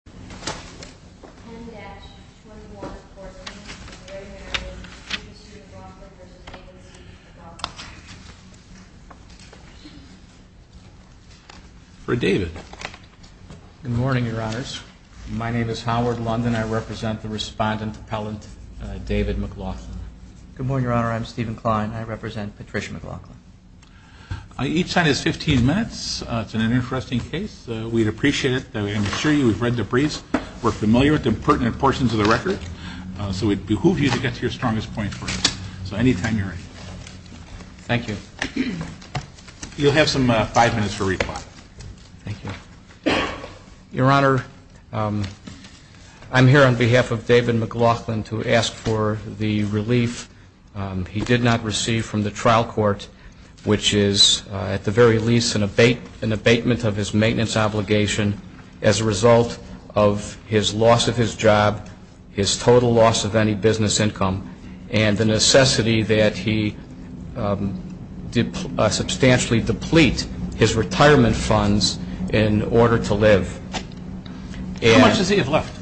10-21-14 Mary Mary and Stephen C. McLauchlan v. David C. McLauchlan For David. Good morning, Your Honors. My name is Howard London. I represent the Respondent Appellant David McLauchlan. Good morning, Your Honor. I'm Stephen Klein. I represent Patricia McLauchlan. Each time is 15 minutes. It's an interesting case. We'd appreciate it. I'm sure you've read the briefs. We're familiar with the pertinent portions of the record, so we'd behoove you to get to your strongest point first. So any time you're ready. Thank you. You'll have some five minutes for reply. Thank you. Your Honor, I'm here on behalf of David McLauchlan to ask for the relief he did not receive from the trial court, which is at the very least an abatement of his maintenance obligation as a result of his loss of his job, his total loss of any business income, and the necessity that he substantially deplete his retirement funds in order to live. How much does he have left?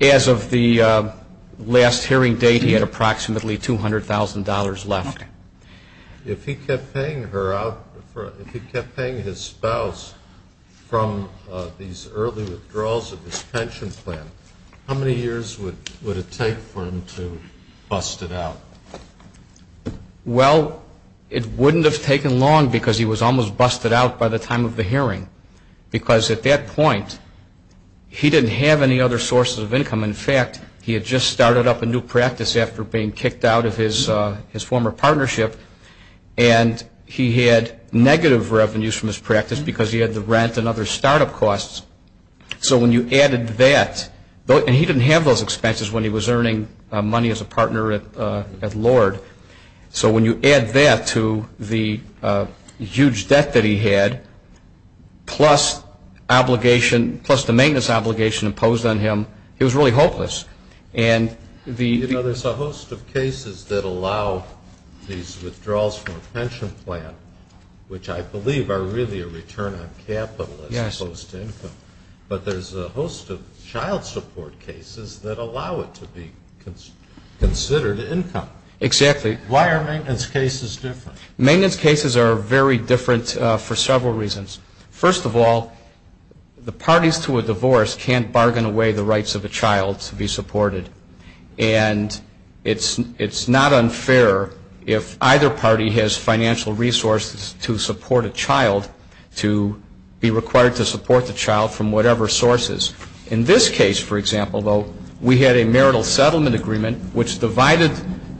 As of the last hearing date, he had approximately $200,000 left. If he kept paying her out, if he kept paying his spouse from these early withdrawals of his pension plan, how many years would it take for him to bust it out? Well, it wouldn't have taken long because he was almost busted out by the time of the hearing, because at that point he didn't have any other sources of income. In fact, he had just started up a new practice after being kicked out of his former partnership, and he had negative revenues from his practice because he had the rent and other startup costs. So when you added that, and he didn't have those expenses when he was earning money as a partner at Lord. So when you add that to the huge debt that he had, plus obligation, plus the maintenance obligation imposed on him, he was really hopeless. You know, there's a host of cases that allow these withdrawals from a pension plan, which I believe are really a return on capital as opposed to income. But there's a host of child support cases that allow it to be considered income. Exactly. Why are maintenance cases different? Maintenance cases are very different for several reasons. First of all, the parties to a divorce can't bargain away the rights of a child to be supported. And it's not unfair if either party has financial resources to support a child, to be required to support the child from whatever sources. In this case, for example, though, we had a marital settlement agreement, which divided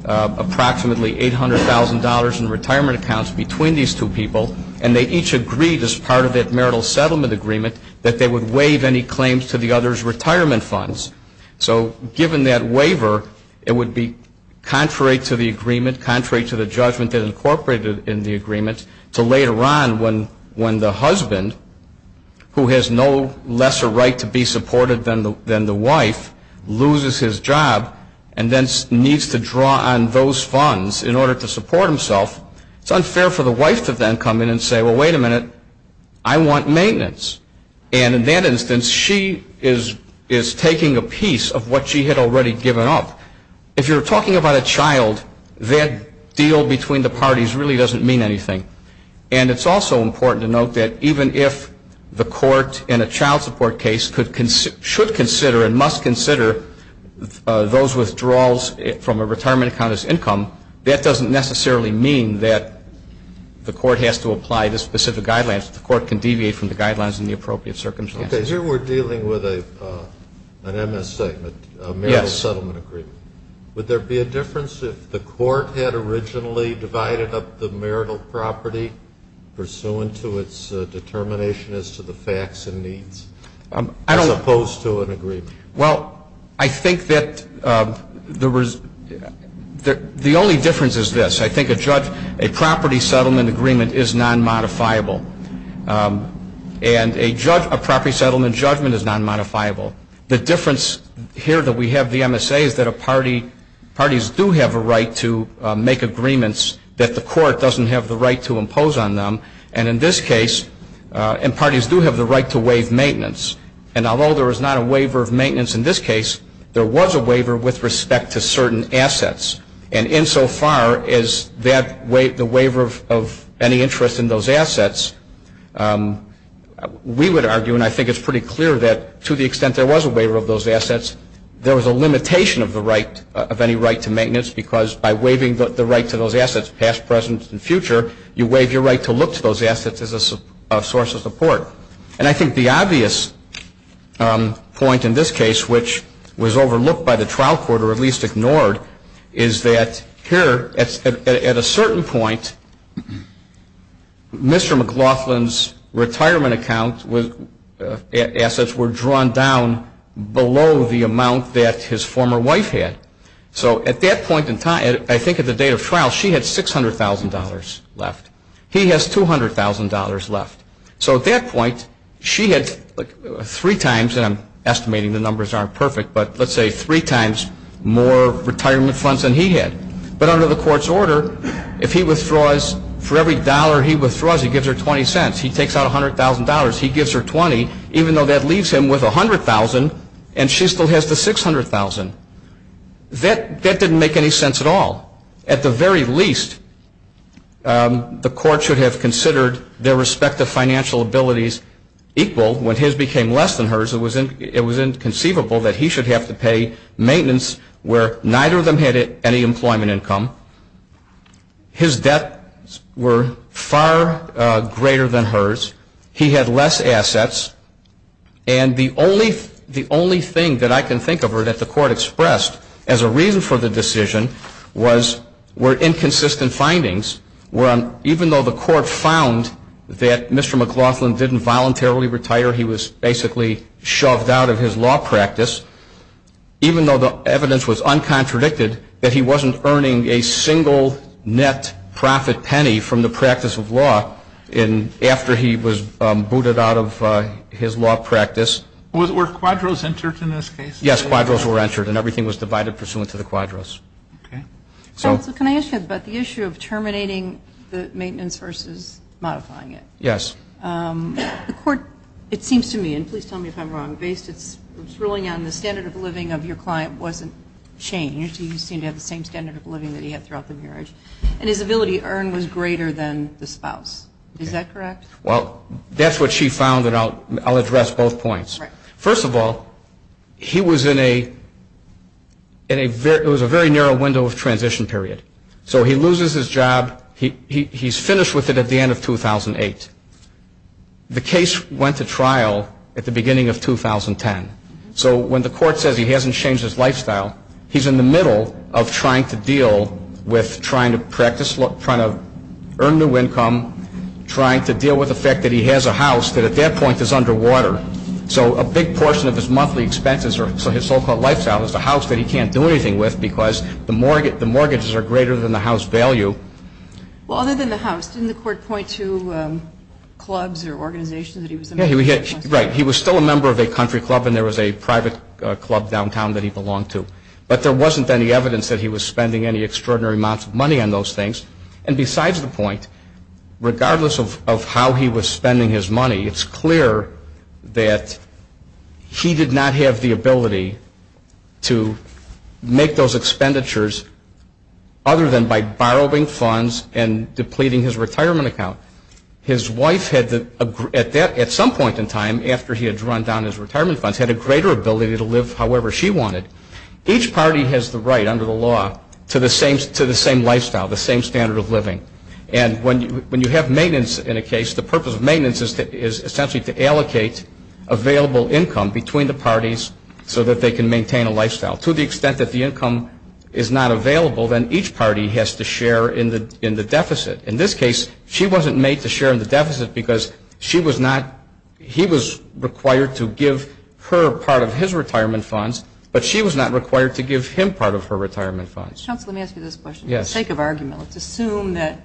approximately $800,000 in retirement accounts between these two people, and they each agreed, as part of that marital settlement agreement, that they would waive any claims to the other's retirement funds. So given that waiver, it would be contrary to the agreement, contrary to the judgment that incorporated in the agreement, to later on when the husband, who has no lesser right to be supported than the wife, loses his job and then needs to draw on those funds in order to support himself. It's unfair for the wife to then come in and say, well, wait a minute, I want maintenance. And in that instance, she is taking a piece of what she had already given up. If you're talking about a child, that deal between the parties really doesn't mean anything. And it's also important to note that even if the court in a child support case should consider and must consider those withdrawals from a retirement account as income, that doesn't necessarily mean that the court has to apply the specific guidelines. The court can deviate from the guidelines in the appropriate circumstances. Okay. Here we're dealing with an MS statement, a marital settlement agreement. Yes. Would there be a difference if the court had originally divided up the marital property pursuant to its determination as to the facts and needs as opposed to an agreement? Well, I think that the only difference is this. I think a property settlement agreement is non-modifiable. And a property settlement judgment is non-modifiable. The difference here that we have with the MSA is that parties do have a right to make agreements that the court doesn't have the right to impose on them. And in this case, parties do have the right to waive maintenance. And although there is not a waiver of maintenance in this case, there was a waiver with respect to certain assets. And insofar as the waiver of any interest in those assets, we would argue, and I think it's pretty clear that to the extent there was a waiver of those assets, there was a limitation of any right to maintenance because by waiving the right to those assets, past, present, and future, you waive your right to look to those assets as a source of support. And I think the obvious point in this case, which was overlooked by the trial court or at least ignored, is that here at a certain point, Mr. McLaughlin's retirement account assets were drawn down below the amount that his former wife had. So at that point in time, I think at the date of trial, she had $600,000 left. He has $200,000 left. So at that point, she had three times, and I'm estimating the numbers aren't perfect, but let's say three times more retirement funds than he had. But under the court's order, if he withdraws, for every dollar he withdraws, he gives her $0.20. He takes out $100,000. He gives her $20,000, even though that leaves him with $100,000, and she still has the $600,000. That didn't make any sense at all. At the very least, the court should have considered their respective financial abilities equal. When his became less than hers, it was inconceivable that he should have to pay maintenance where neither of them had any employment income. His debts were far greater than hers. He had less assets. And the only thing that I can think of that the court expressed as a reason for the decision were inconsistent findings where even though the court found that Mr. McLaughlin didn't voluntarily retire, he was basically shoved out of his law practice, even though the evidence was uncontradicted that he wasn't earning a single net profit penny from the practice of law after he was booted out of his law practice. Were quadros entered in this case? Yes, quadros were entered, and everything was divided pursuant to the quadros. Okay. Counsel, can I ask you about the issue of terminating the maintenance versus modifying it? Yes. The court, it seems to me, and please tell me if I'm wrong, based its ruling on the standard of living of your client wasn't changed. He seemed to have the same standard of living that he had throughout the marriage. And his ability to earn was greater than the spouse. Is that correct? Well, that's what she found, and I'll address both points. First of all, he was in a very narrow window of transition period. So he loses his job. He's finished with it at the end of 2008. The case went to trial at the beginning of 2010. So when the court says he hasn't changed his lifestyle, he's in the middle of trying to deal with trying to practice, trying to earn new income, trying to deal with the fact that he has a house that at that point is underwater. So a big portion of his monthly expenses, or his so-called lifestyle, is the house that he can't do anything with because the mortgages are greater than the house value. Well, other than the house, didn't the court point to clubs or organizations that he was a member of? Right. He was still a member of a country club and there was a private club downtown that he belonged to. But there wasn't any evidence that he was spending any extraordinary amounts of money on those things. And besides the point, regardless of how he was spending his money, it's clear that he did not have the ability to make those expenditures other than by borrowing funds and depleting his retirement account. His wife, at some point in time after he had run down his retirement funds, had a greater ability to live however she wanted. Each party has the right under the law to the same lifestyle, the same standard of living. And when you have maintenance in a case, the purpose of maintenance is essentially to allocate available income between the parties so that they can maintain a lifestyle. To the extent that the income is not available, then each party has to share in the deficit. In this case, she wasn't made to share in the deficit because she was not, he was required to give her part of his retirement funds, but she was not required to give him part of her retirement funds. Counsel, let me ask you this question. Yes. For the sake of argument, let's assume that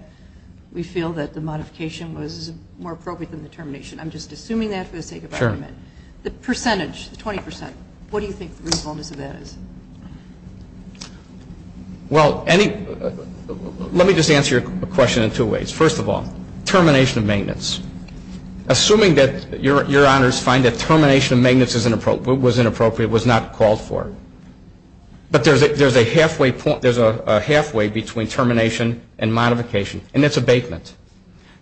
we feel that the modification was more appropriate than the termination. I'm just assuming that for the sake of argument. Sure. The percentage, the 20 percent, what do you think the reasonableness of that is? Well, let me just answer your question in two ways. First of all, termination of maintenance. Assuming that your honors find that termination of maintenance was inappropriate, was not called for. But there's a halfway between termination and modification, and that's abatement.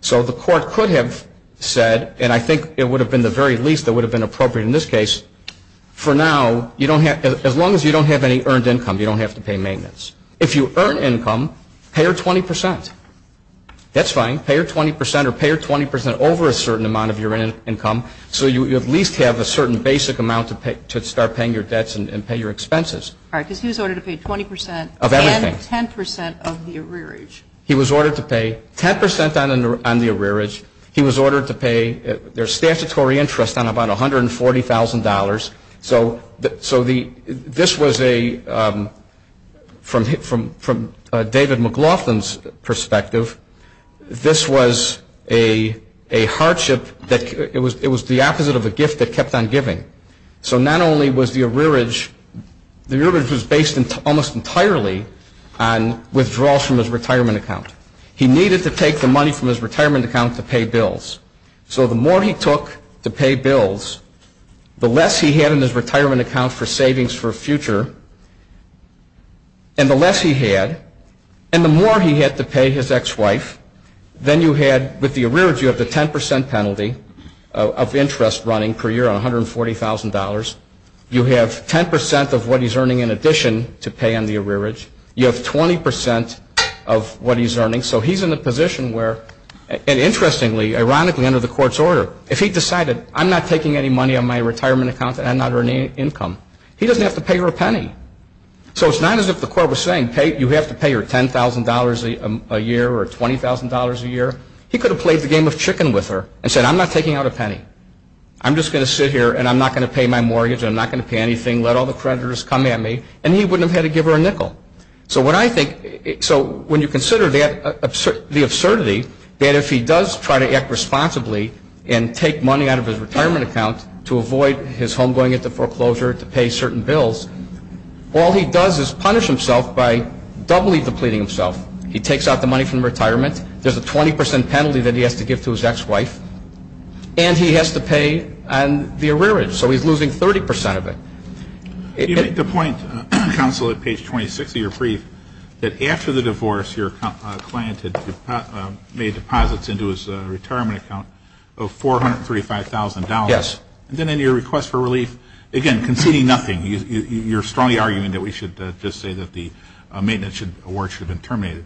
So the court could have said, and I think it would have been the very least that would have been appropriate in this case, for now, as long as you don't have any earned income, you don't have to pay maintenance. If you earn income, pay her 20 percent. That's fine. Pay her 20 percent or pay her 20 percent over a certain amount of your income so you at least have a certain basic amount to start paying your debts and pay your expenses. All right, because he was ordered to pay 20 percent of everything. And 10 percent of the arrearage. He was ordered to pay 10 percent on the arrearage. He was ordered to pay their statutory interest on about $140,000. So this was a, from David McLaughlin's perspective, this was a hardship that it was the opposite of a gift that kept on giving. So not only was the arrearage, the arrearage was based almost entirely on withdrawals from his retirement account. He needed to take the money from his retirement account to pay bills. So the more he took to pay bills, the less he had in his retirement account for savings for a future, and the less he had and the more he had to pay his ex-wife, then you had, with the arrearage, you have the 10 percent penalty of interest running per year on $140,000. You have 10 percent of what he's earning in addition to pay on the arrearage. You have 20 percent of what he's earning. So he's in a position where, and interestingly, ironically, under the court's order, if he decided I'm not taking any money on my retirement account and I'm not earning income, he doesn't have to pay her a penny. So it's not as if the court was saying you have to pay her $10,000 a year or $20,000 a year. He could have played the game of chicken with her and said I'm not taking out a penny. I'm just going to sit here and I'm not going to pay my mortgage and I'm not going to pay anything. Let all the creditors come at me, and he wouldn't have had to give her a nickel. So when you consider the absurdity that if he does try to act responsibly and take money out of his retirement account to avoid his home going into foreclosure to pay certain bills, all he does is punish himself by doubly depleting himself. He takes out the money from retirement. There's a 20 percent penalty that he has to give to his ex-wife, and he has to pay on the arrearage. So he's losing 30 percent of it. You make the point, counsel, at page 26 of your brief, that after the divorce, your client had made deposits into his retirement account of $435,000. Yes. And then in your request for relief, again, conceding nothing. You're strongly arguing that we should just say that the maintenance award should have been terminated.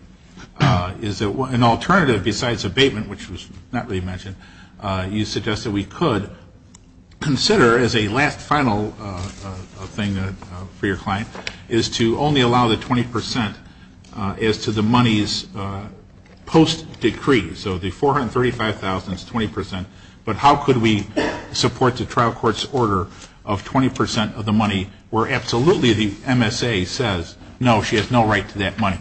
Is there an alternative besides abatement, which was not really mentioned? You suggest that we could consider, as a last final thing for your client, is to only allow the 20 percent as to the money's post-decree. So the $435,000 is 20 percent, but how could we support the trial court's order of 20 percent of the money where absolutely the MSA says, no, she has no right to that money.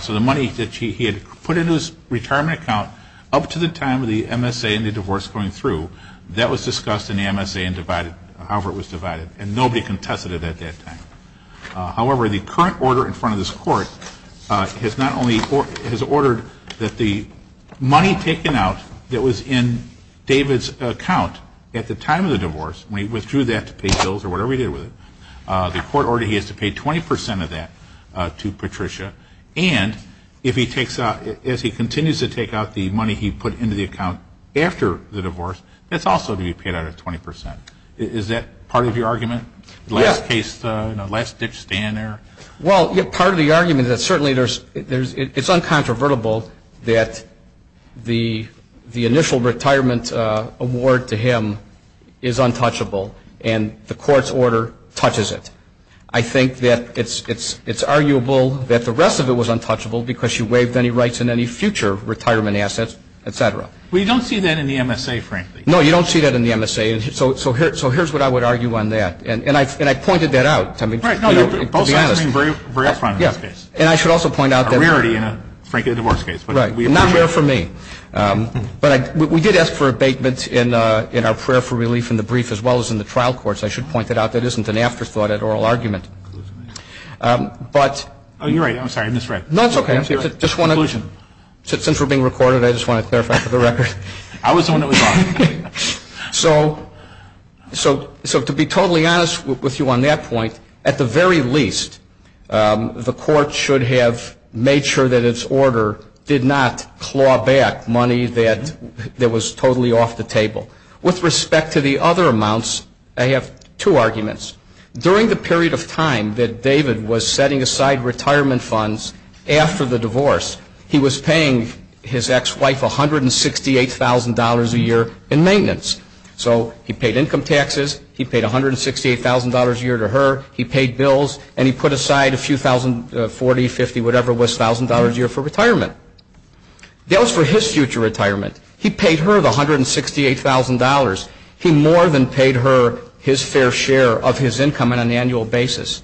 So the money that he had put into his retirement account up to the time of the MSA and the divorce going through, that was discussed in the MSA and divided, however it was divided, and nobody contested it at that time. However, the current order in front of this court has ordered that the money taken out that was in David's account at the time of the divorce, when he withdrew that to pay bills or whatever he did with it, the court ordered he has to pay 20 percent of that to Patricia. And if he takes out, as he continues to take out the money he put into the account after the divorce, that's also to be paid out at 20 percent. Is that part of your argument, the last case, the last-ditch stand there? Well, part of the argument is that certainly it's uncontrovertible that the initial retirement award to him is untouchable, and the court's order touches it. I think that it's arguable that the rest of it was untouchable because she waived any rights in any future retirement assets, et cetera. Well, you don't see that in the MSA, frankly. No, you don't see that in the MSA. So here's what I would argue on that. And I pointed that out. Right. No, both sides are being very upfront in this case. And I should also point out that. A rarity in a divorce case. Right. Not rare for me. But we did ask for abatement in our prayer for relief in the brief as well as in the trial courts. I should point that out. That isn't an afterthought at oral argument. Oh, you're right. I'm sorry. I misread. No, it's okay. Since we're being recorded, I just want to clarify for the record. I was the one that was off. So to be totally honest with you on that point, at the very least, the court should have made sure that its order did not claw back money that was totally off the table. With respect to the other amounts, I have two arguments. During the period of time that David was setting aside retirement funds after the divorce, he was paying his ex-wife $168,000 a year in maintenance. So he paid income taxes. He paid $168,000 a year to her. He paid bills. And he put aside a few thousand, 40, 50, whatever it was, thousand dollars a year for retirement. That was for his future retirement. He paid her the $168,000. He more than paid her his fair share of his income on an annual basis.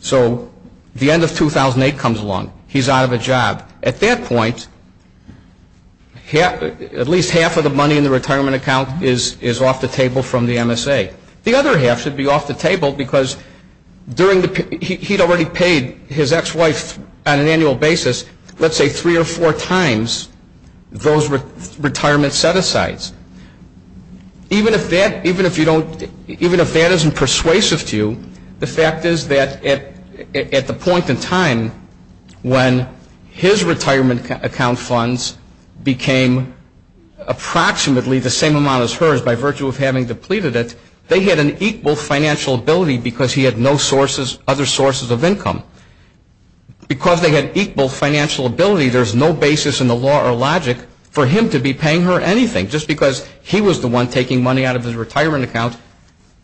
So the end of 2008 comes along. He's out of a job. At that point, at least half of the money in the retirement account is off the table from the MSA. The other half should be off the table because he'd already paid his ex-wife on an annual basis, let's say three or four times those retirement set-asides. Even if that isn't persuasive to you, the fact is that at the point in time when his retirement account funds became approximately the same amount as hers by virtue of having depleted it, they had an equal financial ability because he had no other sources of income. Because they had equal financial ability, there's no basis in the law or logic for him to be paying her anything. Just because he was the one taking money out of his retirement account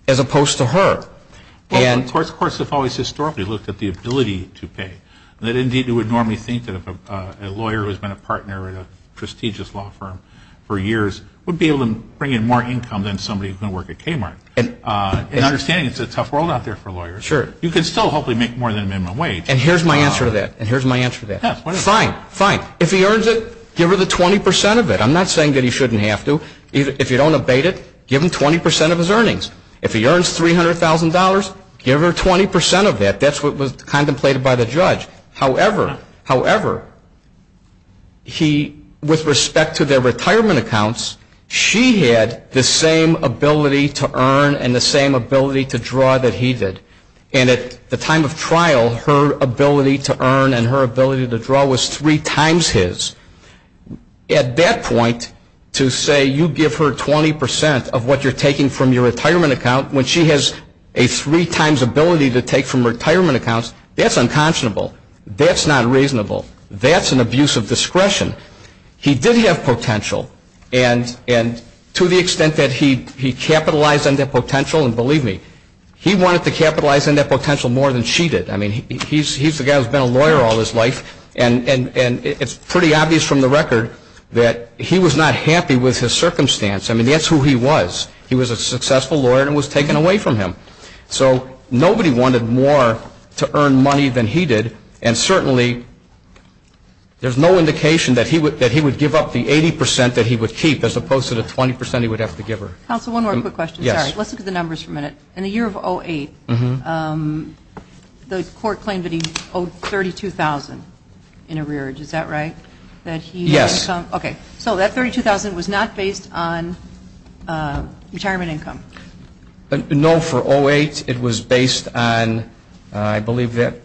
as opposed to her. Of course, the courts have always historically looked at the ability to pay. Indeed, you would normally think that a lawyer who has been a partner at a prestigious law firm for years would be able to bring in more income than somebody who can work at Kmart. And understanding it's a tough world out there for lawyers. You can still hopefully make more than minimum wage. And here's my answer to that. And here's my answer to that. Fine, fine. If he earns it, give her the 20 percent of it. I'm not saying that he shouldn't have to. If you don't abate it, give him 20 percent of his earnings. If he earns $300,000, give her 20 percent of that. That's what was contemplated by the judge. However, however, he, with respect to their retirement accounts, she had the same ability to earn and the same ability to draw that he did. And at the time of trial, her ability to earn and her ability to draw was three times his. At that point, to say you give her 20 percent of what you're taking from your retirement account when she has a three times ability to take from retirement accounts, that's unconscionable. That's not reasonable. That's an abuse of discretion. He did have potential. And to the extent that he capitalized on that potential, and believe me, he wanted to capitalize on that potential more than she did. I mean, he's the guy who's been a lawyer all his life, and it's pretty obvious from the record that he was not happy with his circumstance. I mean, that's who he was. He was a successful lawyer and was taken away from him. So nobody wanted more to earn money than he did, and certainly there's no indication that he would give up the 80 percent that he would keep as opposed to the 20 percent he would have to give her. Counsel, one more quick question. Sorry. Let's look at the numbers for a minute. In the year of 2008, the court claimed that he owed $32,000 in arrearage. Is that right? Yes. Okay. So that $32,000 was not based on retirement income? No. For 2008, it was based on, I believe that,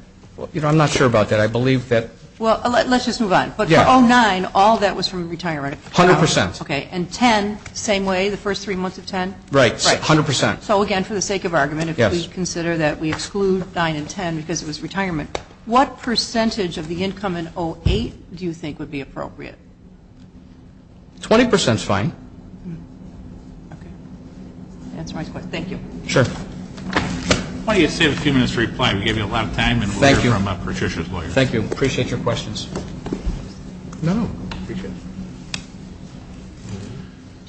you know, I'm not sure about that. I believe that. Well, let's just move on. But for 2009, all that was from retirement. A hundred percent. Okay. And 10, same way, the first three months of 10? Right. Yes, a hundred percent. So, again, for the sake of argument, if we consider that we exclude 9 and 10 because it was retirement, what percentage of the income in 2008 do you think would be appropriate? 20 percent is fine. Okay. Answer my question. Thank you. Sure. Why don't you save a few minutes to reply? We gave you a lot of time and we'll hear from Patricia's lawyer. Thank you. Appreciate your questions. No, no. Appreciate it.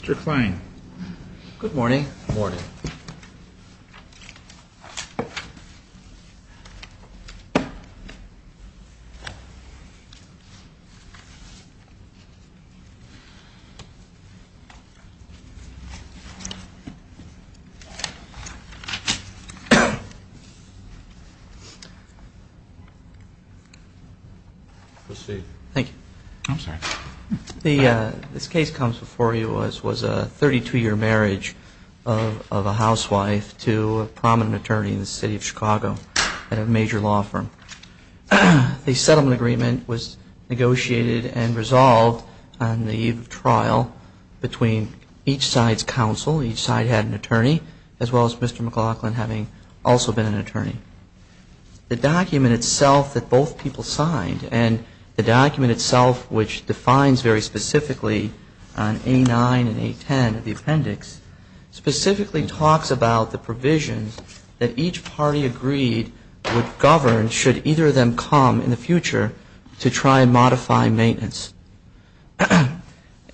Mr. Klein. Good morning. Good morning. Proceed. Thank you. I'm sorry. This case comes before you as was a 32-year marriage of a housewife to a prominent attorney in the city of Chicago at a major law firm. The settlement agreement was negotiated and resolved on the eve of trial between each side's counsel. Each side had an attorney, as well as Mr. McLaughlin having also been an attorney. The document itself that both people signed and the document itself, which defines very specifically on A9 and A10 of the appendix, specifically talks about the provisions that each party agreed would govern should either of them come in the future to try and modify maintenance.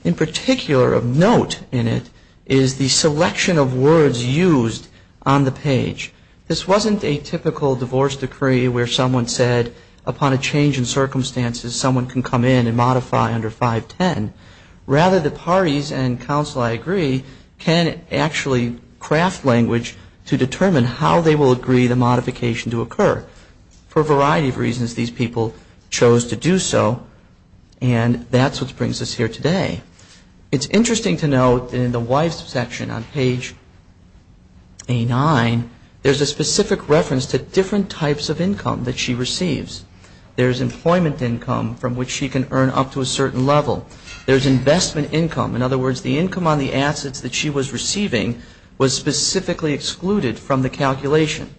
In particular of note in it is the selection of words used on the page. This wasn't a typical divorce decree where someone said upon a change in circumstances someone can come in and modify under 510. Rather, the parties and counsel, I agree, can actually craft language to determine how they will agree the modification to occur. For a variety of reasons, these people chose to do so and that's what brings us here today. It's interesting to note in the wife's section on page A9, there's a specific reference to different types of income that she receives. There's employment income from which she can earn up to a certain level. There's investment income. In other words, the income on the assets that she was receiving was specifically excluded from the calculation.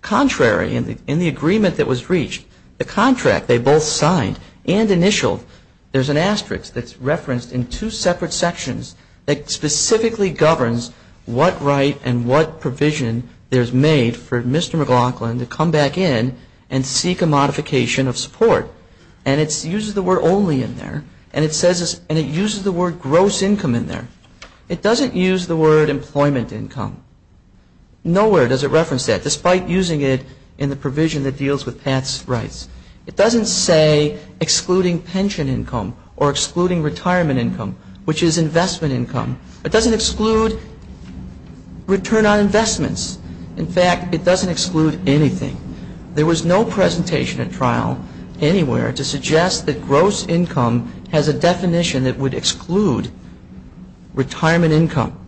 Contrary, in the agreement that was reached, the contract they both signed and initialed, there's an asterisk that's referenced in two separate sections that specifically governs what right and what provision there's made for Mr. McLaughlin to come back in and seek a modification of support. And it uses the word only in there and it uses the word gross income in there. It doesn't use the word employment income. Nowhere does it reference that, despite using it in the provision that deals with past rights. It doesn't say excluding pension income or excluding retirement income, which is investment income. It doesn't exclude return on investments. In fact, it doesn't exclude anything. There was no presentation at trial anywhere to suggest that gross income has a definition that would exclude retirement income.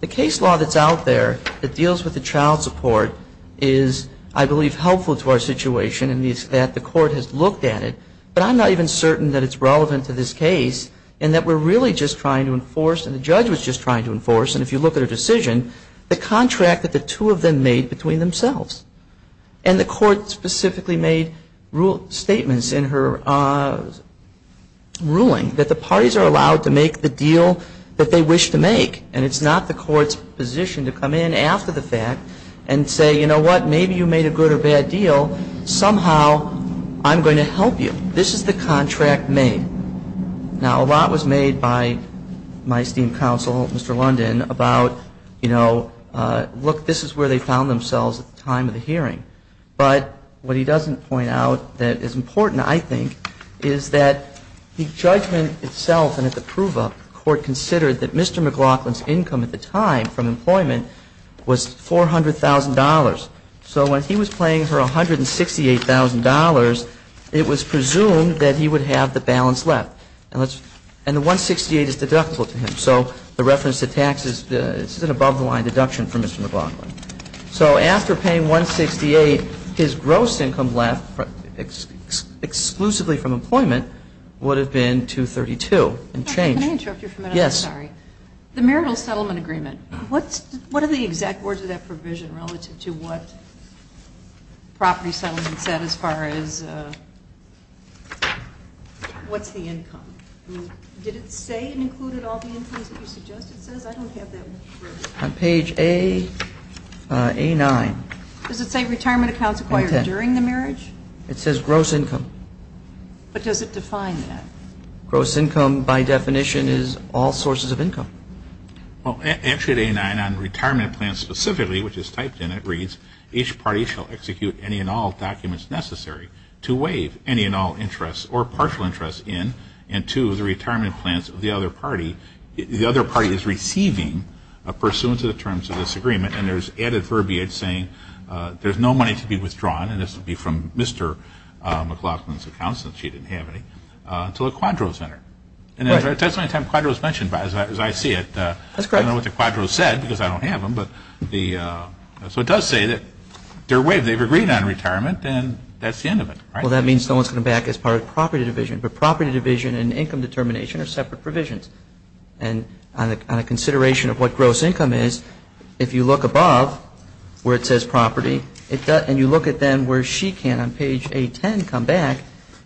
The case law that's out there that deals with the child support is, I believe, helpful to our situation and that the court has looked at it. But I'm not even certain that it's relevant to this case and that we're really just trying to enforce, and the judge was just trying to enforce, and if you look at her decision, the contract that the two of them made between themselves. And the court specifically made statements in her ruling that the parties are allowed to make the deal that they wish to make, and it's not the court's position to come in after the fact and say, you know what, maybe you made a good or bad deal. Somehow I'm going to help you. This is the contract made. Now, a lot was made by my esteemed counsel, Mr. London, about, you know, look, this is where they found themselves at the time of the hearing. But what he doesn't point out that is important, I think, is that the judgment itself and at the prove-up, the court considered that Mr. McLaughlin's income at the time from employment was $400,000. So when he was paying her $168,000, it was presumed that he would have the balance left. And the $168,000 is deductible to him. So the reference to taxes, this is an above-the-line deduction for Mr. McLaughlin. So after paying $168,000, his gross income left exclusively from employment would have been $232,000 and changed. Can I interrupt you for a minute? Yes. I'm sorry. The marital settlement agreement, what are the exact words of that provision relative to what property settlement said as far as what's the income? Did it say it included all the incomes that you suggested it says? I don't have that. On page A9. Does it say retirement accounts acquired during the marriage? It says gross income. But does it define that? Gross income, by definition, is all sources of income. Well, actually, on page A9 on retirement plans specifically, which is typed in, it reads, each party shall execute any and all documents necessary to waive any and all interests or partial interests in and to the retirement plans of the other party. The other party is receiving pursuant to the terms of this agreement, and there's added verbiage saying there's no money to be withdrawn, and this would be from Mr. McLaughlin's account since she didn't have any, until the Quadros met her. I don't know what the Quadros said, because I don't have them. So it does say that they're waived. They've agreed on retirement, and that's the end of it. Well, that means no one's going to back as far as property division. But property division and income determination are separate provisions. And on a consideration of what gross income is, if you look above where it says property, and you look at them where she can on page A10 come back,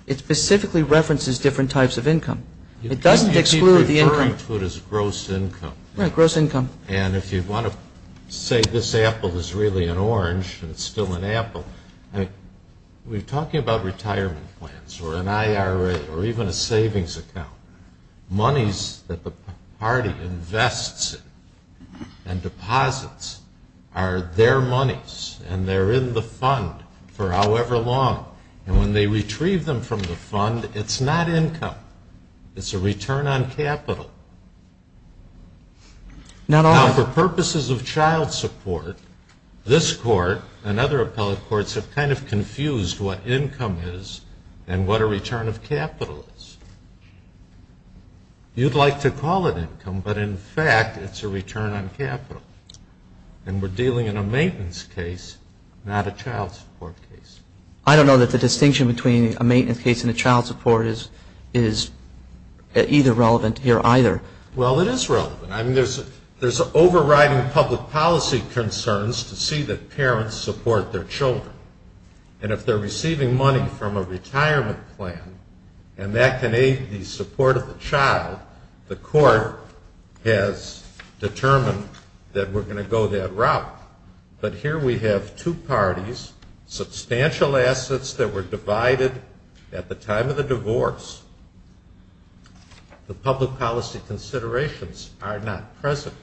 it specifically references different types of income. It doesn't exclude the income. You keep referring to it as gross income. And if you want to say this apple is really an orange and it's still an apple, we're talking about retirement plans or an IRA or even a savings account. Monies that the party invests in and deposits are their monies, and they're in the fund for however long. And when they retrieve them from the fund, it's not income. It's a return on capital. Now, for purposes of child support, this Court and other appellate courts have kind of confused what income is and what a return of capital is. You'd like to call it income, but in fact it's a return on capital. And we're dealing in a maintenance case, not a child support case. I don't know that the distinction between a maintenance case and a child support is either relevant here either. Well, it is relevant. I mean, there's overriding public policy concerns to see that parents support their children. And if they're receiving money from a retirement plan and that can aid the support of the child, the Court has determined that we're going to go that route. But here we have two parties, substantial assets that were divided at the time of the divorce. The public policy considerations are not present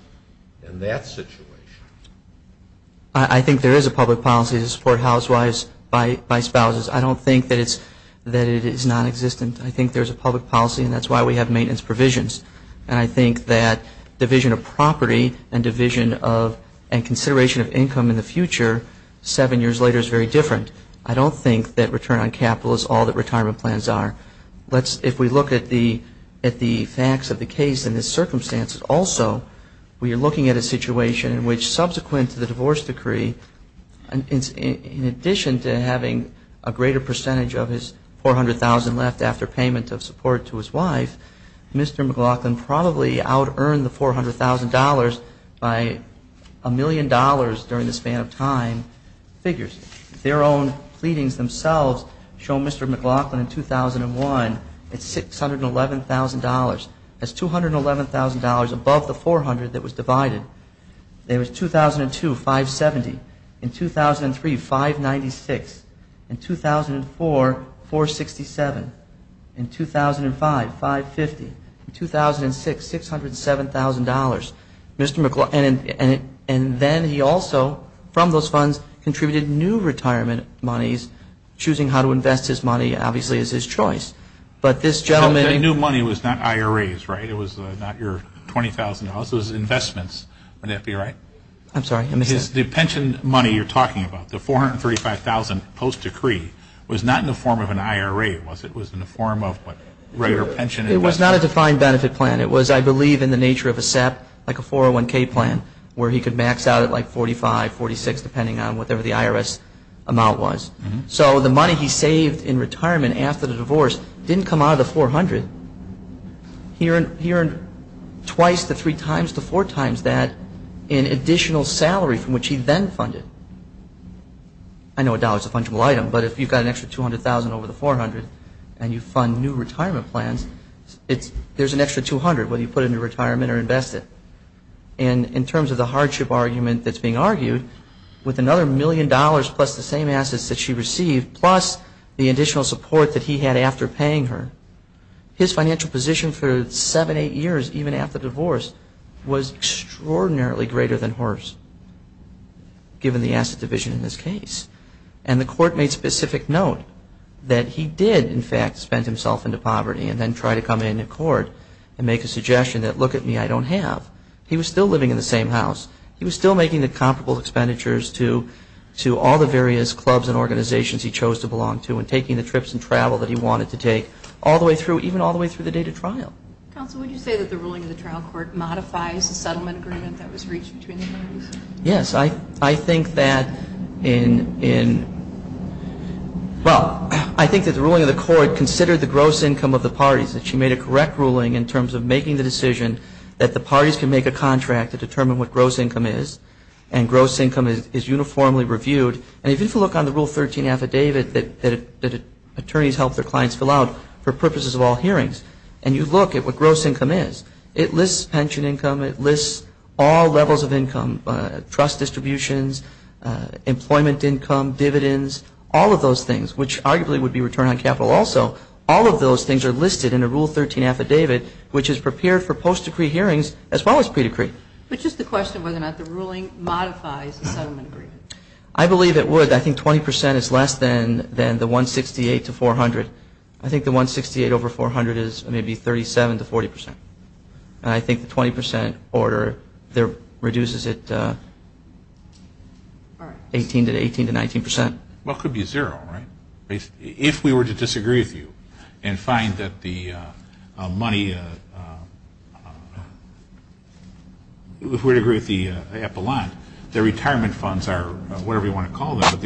in that situation. I think there is a public policy to support housewives by spouses. I don't think that it is nonexistent. I think there's a public policy and that's why we have maintenance provisions. And I think that division of property and division of and consideration of income in the future seven years later is very different. I don't think that return on capital is all that retirement plans are. If we look at the facts of the case and the circumstances also, we are looking at a situation in which subsequent to the divorce decree, in addition to having a greater percentage of his $400,000 left after payment of support to his wife, Mr. McLaughlin probably out-earned the $400,000 by a million dollars during the span of time figures. Their own pleadings themselves show Mr. McLaughlin in 2001 at $611,000. That's $211,000 above the $400,000 that was divided. There was 2002, $570,000. In 2003, $596,000. In 2004, $467,000. In 2005, $550,000. In 2006, $607,000. And then he also, from those funds, contributed new retirement monies, choosing how to invest his money, obviously, as his choice. But this gentleman new money was not IRAs, right? It was not your $20,000. It was investments. Would that be right? I'm sorry. The pension money you're talking about, the $435,000 post-decree, was not in the form of an IRA, was it? It was in the form of a greater pension investment. It was not a defined benefit plan. It was, I believe, in the nature of a SEP, like a 401K plan, where he could max out at like $45,000, $46,000, depending on whatever the IRS amount was. So the money he saved in retirement after the divorce didn't come out of the $400,000. He earned twice to three times to four times that in additional salary from which he then funded. I know a dollar is a fungible item, but if you've got an extra $200,000 over the $400,000 and you fund new retirement plans, there's an extra $200,000, whether you put it into retirement or invest it. And in terms of the hardship argument that's being argued, with another million dollars plus the same assets that she received, plus the additional support that he had after paying her, his financial position for seven, eight years, even after divorce, was extraordinarily greater than hers, given the asset division in this case. And the court made specific note that he did, in fact, spend himself into poverty and then try to come into court and make a suggestion that, look at me, I don't have. He was still living in the same house. He was still making the comparable expenditures to all the various clubs and organizations he chose to belong to and taking the trips and travel that he wanted to take all the way through, even all the way through the date of trial. Counsel, would you say that the ruling of the trial court modifies the settlement agreement that was reached between the parties? Yes. I think that in, well, I think that the ruling of the court considered the gross income of the parties, that she made a correct ruling in terms of making the decision that the parties can make a contract to determine what gross income is and gross income is uniformly reviewed. And if you look on the Rule 13 affidavit that attorneys help their clients fill out for purposes of all hearings, and you look at what gross income is, it lists pension income, it lists all levels of income, trust distributions, employment income, dividends, all of those things, which arguably would be return on capital also, all of those things are listed in the Rule 13 affidavit, which is prepared for post-decree hearings as well as pre-decree. But just the question of whether or not the ruling modifies the settlement agreement. I believe it would. I think 20 percent is less than the 168 to 400. I think the 168 over 400 is maybe 37 to 40 percent. And I think the 20 percent order there reduces it 18 to 19 percent. Well, it could be zero, right? If we were to disagree with you and find that the money, if we were to agree with the epilogue, the retirement funds are whatever you want to call them, but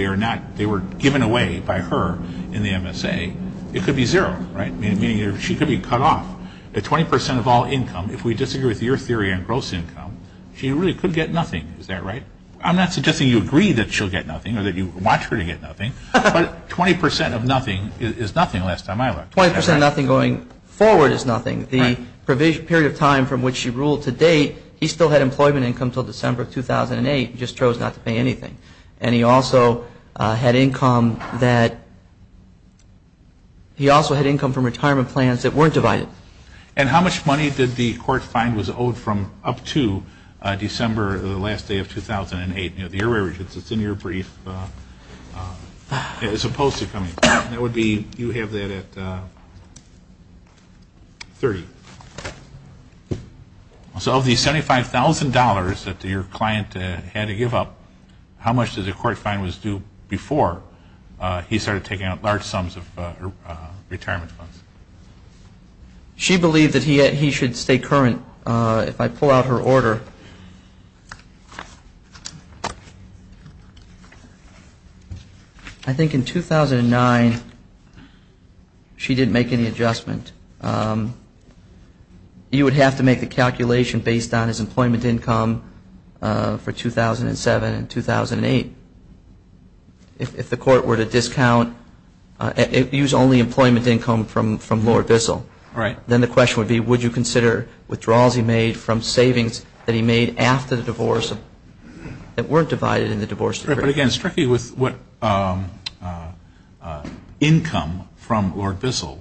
they were given away by her in the MSA, it could be zero, right? Meaning she could be cut off at 20 percent of all income. If we disagree with your theory on gross income, she really could get nothing. Is that right? I'm not suggesting you agree that she'll get nothing or that you want her to get nothing, but 20 percent of nothing is nothing the last time I looked. 20 percent of nothing going forward is nothing. The period of time from which she ruled to date, he still had employment income until December of 2008. He just chose not to pay anything. And he also had income from retirement plans that weren't divided. And how much money did the court find was owed from up to December the last day of 2008? It's in your brief. You have that at 30. So of the $75,000 that your client had to give up, how much did the court find was due before he started taking out large sums of retirement funds? She believed that he should stay current. If I pull out her order, I think in 2009 she didn't make any adjustment. You would have to make the calculation based on his employment income for 2007 and 2008. If the court were to discount, use only employment income from Lord Bissell, then the question would be would you consider withdrawals he made from savings that he made after the divorce that weren't divided in the divorce decree? But again, strictly with what income from Lord Bissell,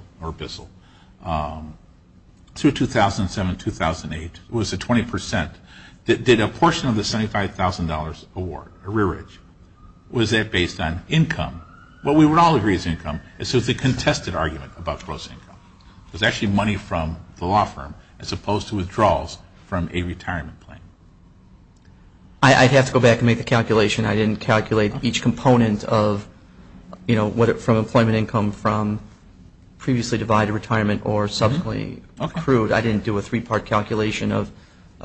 2007-2008 was the 20 percent. Did a portion of the $75,000 award, was that based on income? It was actually money from the law firm as opposed to withdrawals from a retirement plan. I'd have to go back and make the calculation. I didn't calculate each component from employment income from previously divided retirement or subsequently accrued. I didn't do a three-part calculation of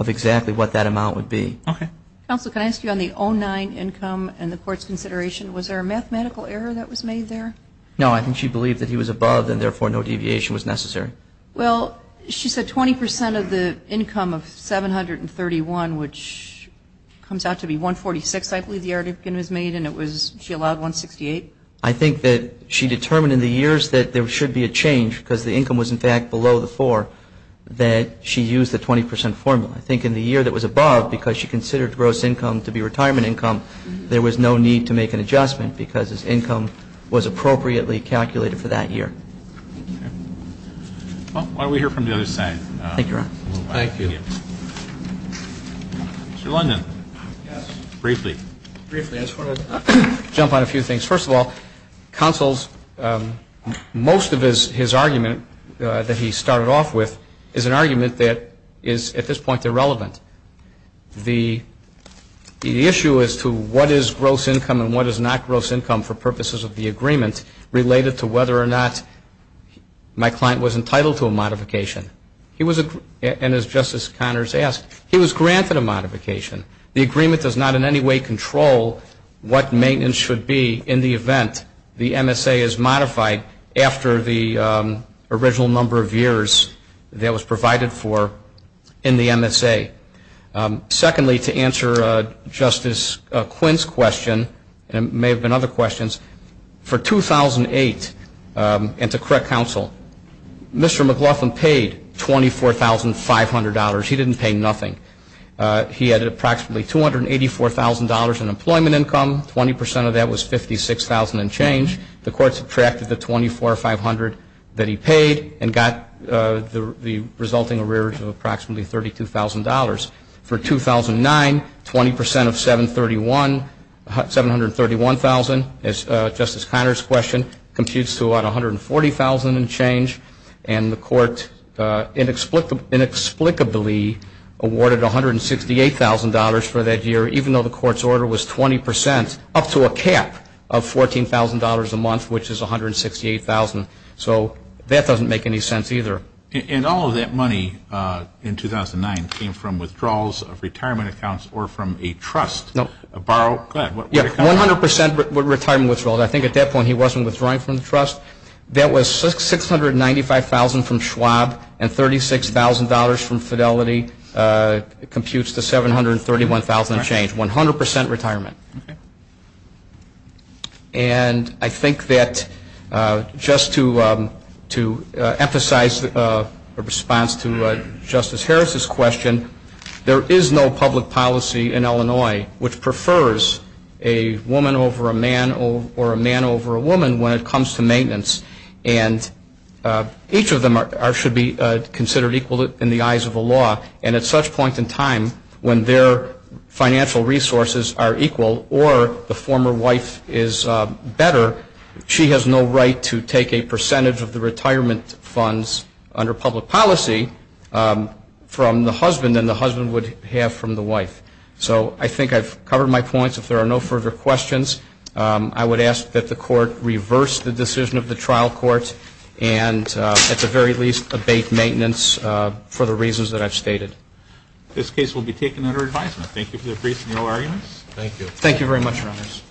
exactly what that amount would be. Counsel, can I ask you on the 2009 income and the court's consideration, was there a mathematical error that was made there? No, I think she believed that he was above and therefore no deviation was necessary. Well, she said 20 percent of the income of 731, which comes out to be 146, I believe the argument was made, and she allowed 168. I think that she determined in the years that there should be a change because the income was in fact below the 4 that she used the 20 percent formula. I think in the year that was above, because she considered gross income to be retirement income, there was no need to make an adjustment because his income was appropriately calculated for that year. Well, why don't we hear from the other side. Thank you. Mr. London, briefly. Briefly, I just want to jump on a few things. First of all, counsel's most of his argument that he started off with is an argument that is at this point irrelevant. The issue as to what is gross income and what is not gross income for purposes of the agreement related to whether or not my client was entitled to a modification. And as Justice Connors asked, he was granted a modification. The agreement does not in any way control what maintenance should be in the event the MSA is modified after the original number of years that it was provided for in the MSA. Secondly, to answer Justice Quinn's question, and there may have been other questions, for 2008, and to correct counsel, Mr. McLaughlin paid $24,500. He didn't pay nothing. He had approximately $284,000 in employment income. Twenty percent of that was $56,000 and change. The court subtracted the $24,500 that he paid and got the resulting arrears of approximately $32,000. For 2009, 20 percent of $731,000, as Justice Connors questioned, computes to about $140,000 and change. And the court inexplicably awarded $168,000 for that year, even though the court's order was 20 percent, up to a cap of $14,000 a month, which is $168,000. So that doesn't make any sense either. And all of that money in 2009 came from withdrawals of retirement accounts or from a trust? Nope. A borrowed? Yeah, 100 percent were retirement withdrawals. I think at that point he wasn't withdrawing from the trust. That was $695,000 from Schwab and $36,000 from Fidelity computes to $731,000 and change. 100 percent retirement. And I think that just to emphasize a response to Justice Harris's question, there is no public policy in Illinois which prefers a woman over a man or a man over a woman when it comes to maintenance. And each of them should be considered equal in the eyes of the law. And at such point in time when their financial resources are equal or the former wife is better, she has no right to take a percentage of the retirement funds under public policy from the husband than the husband would have from the wife. So I think I've covered my points. If there are no further questions, I would ask that the court reverse the decision of the trial court and at the very least abate maintenance for the reasons that I've stated. This case will be taken under advisement. Thank you for your brief and your arguments. Thank you. Thank you very much, Your Honors.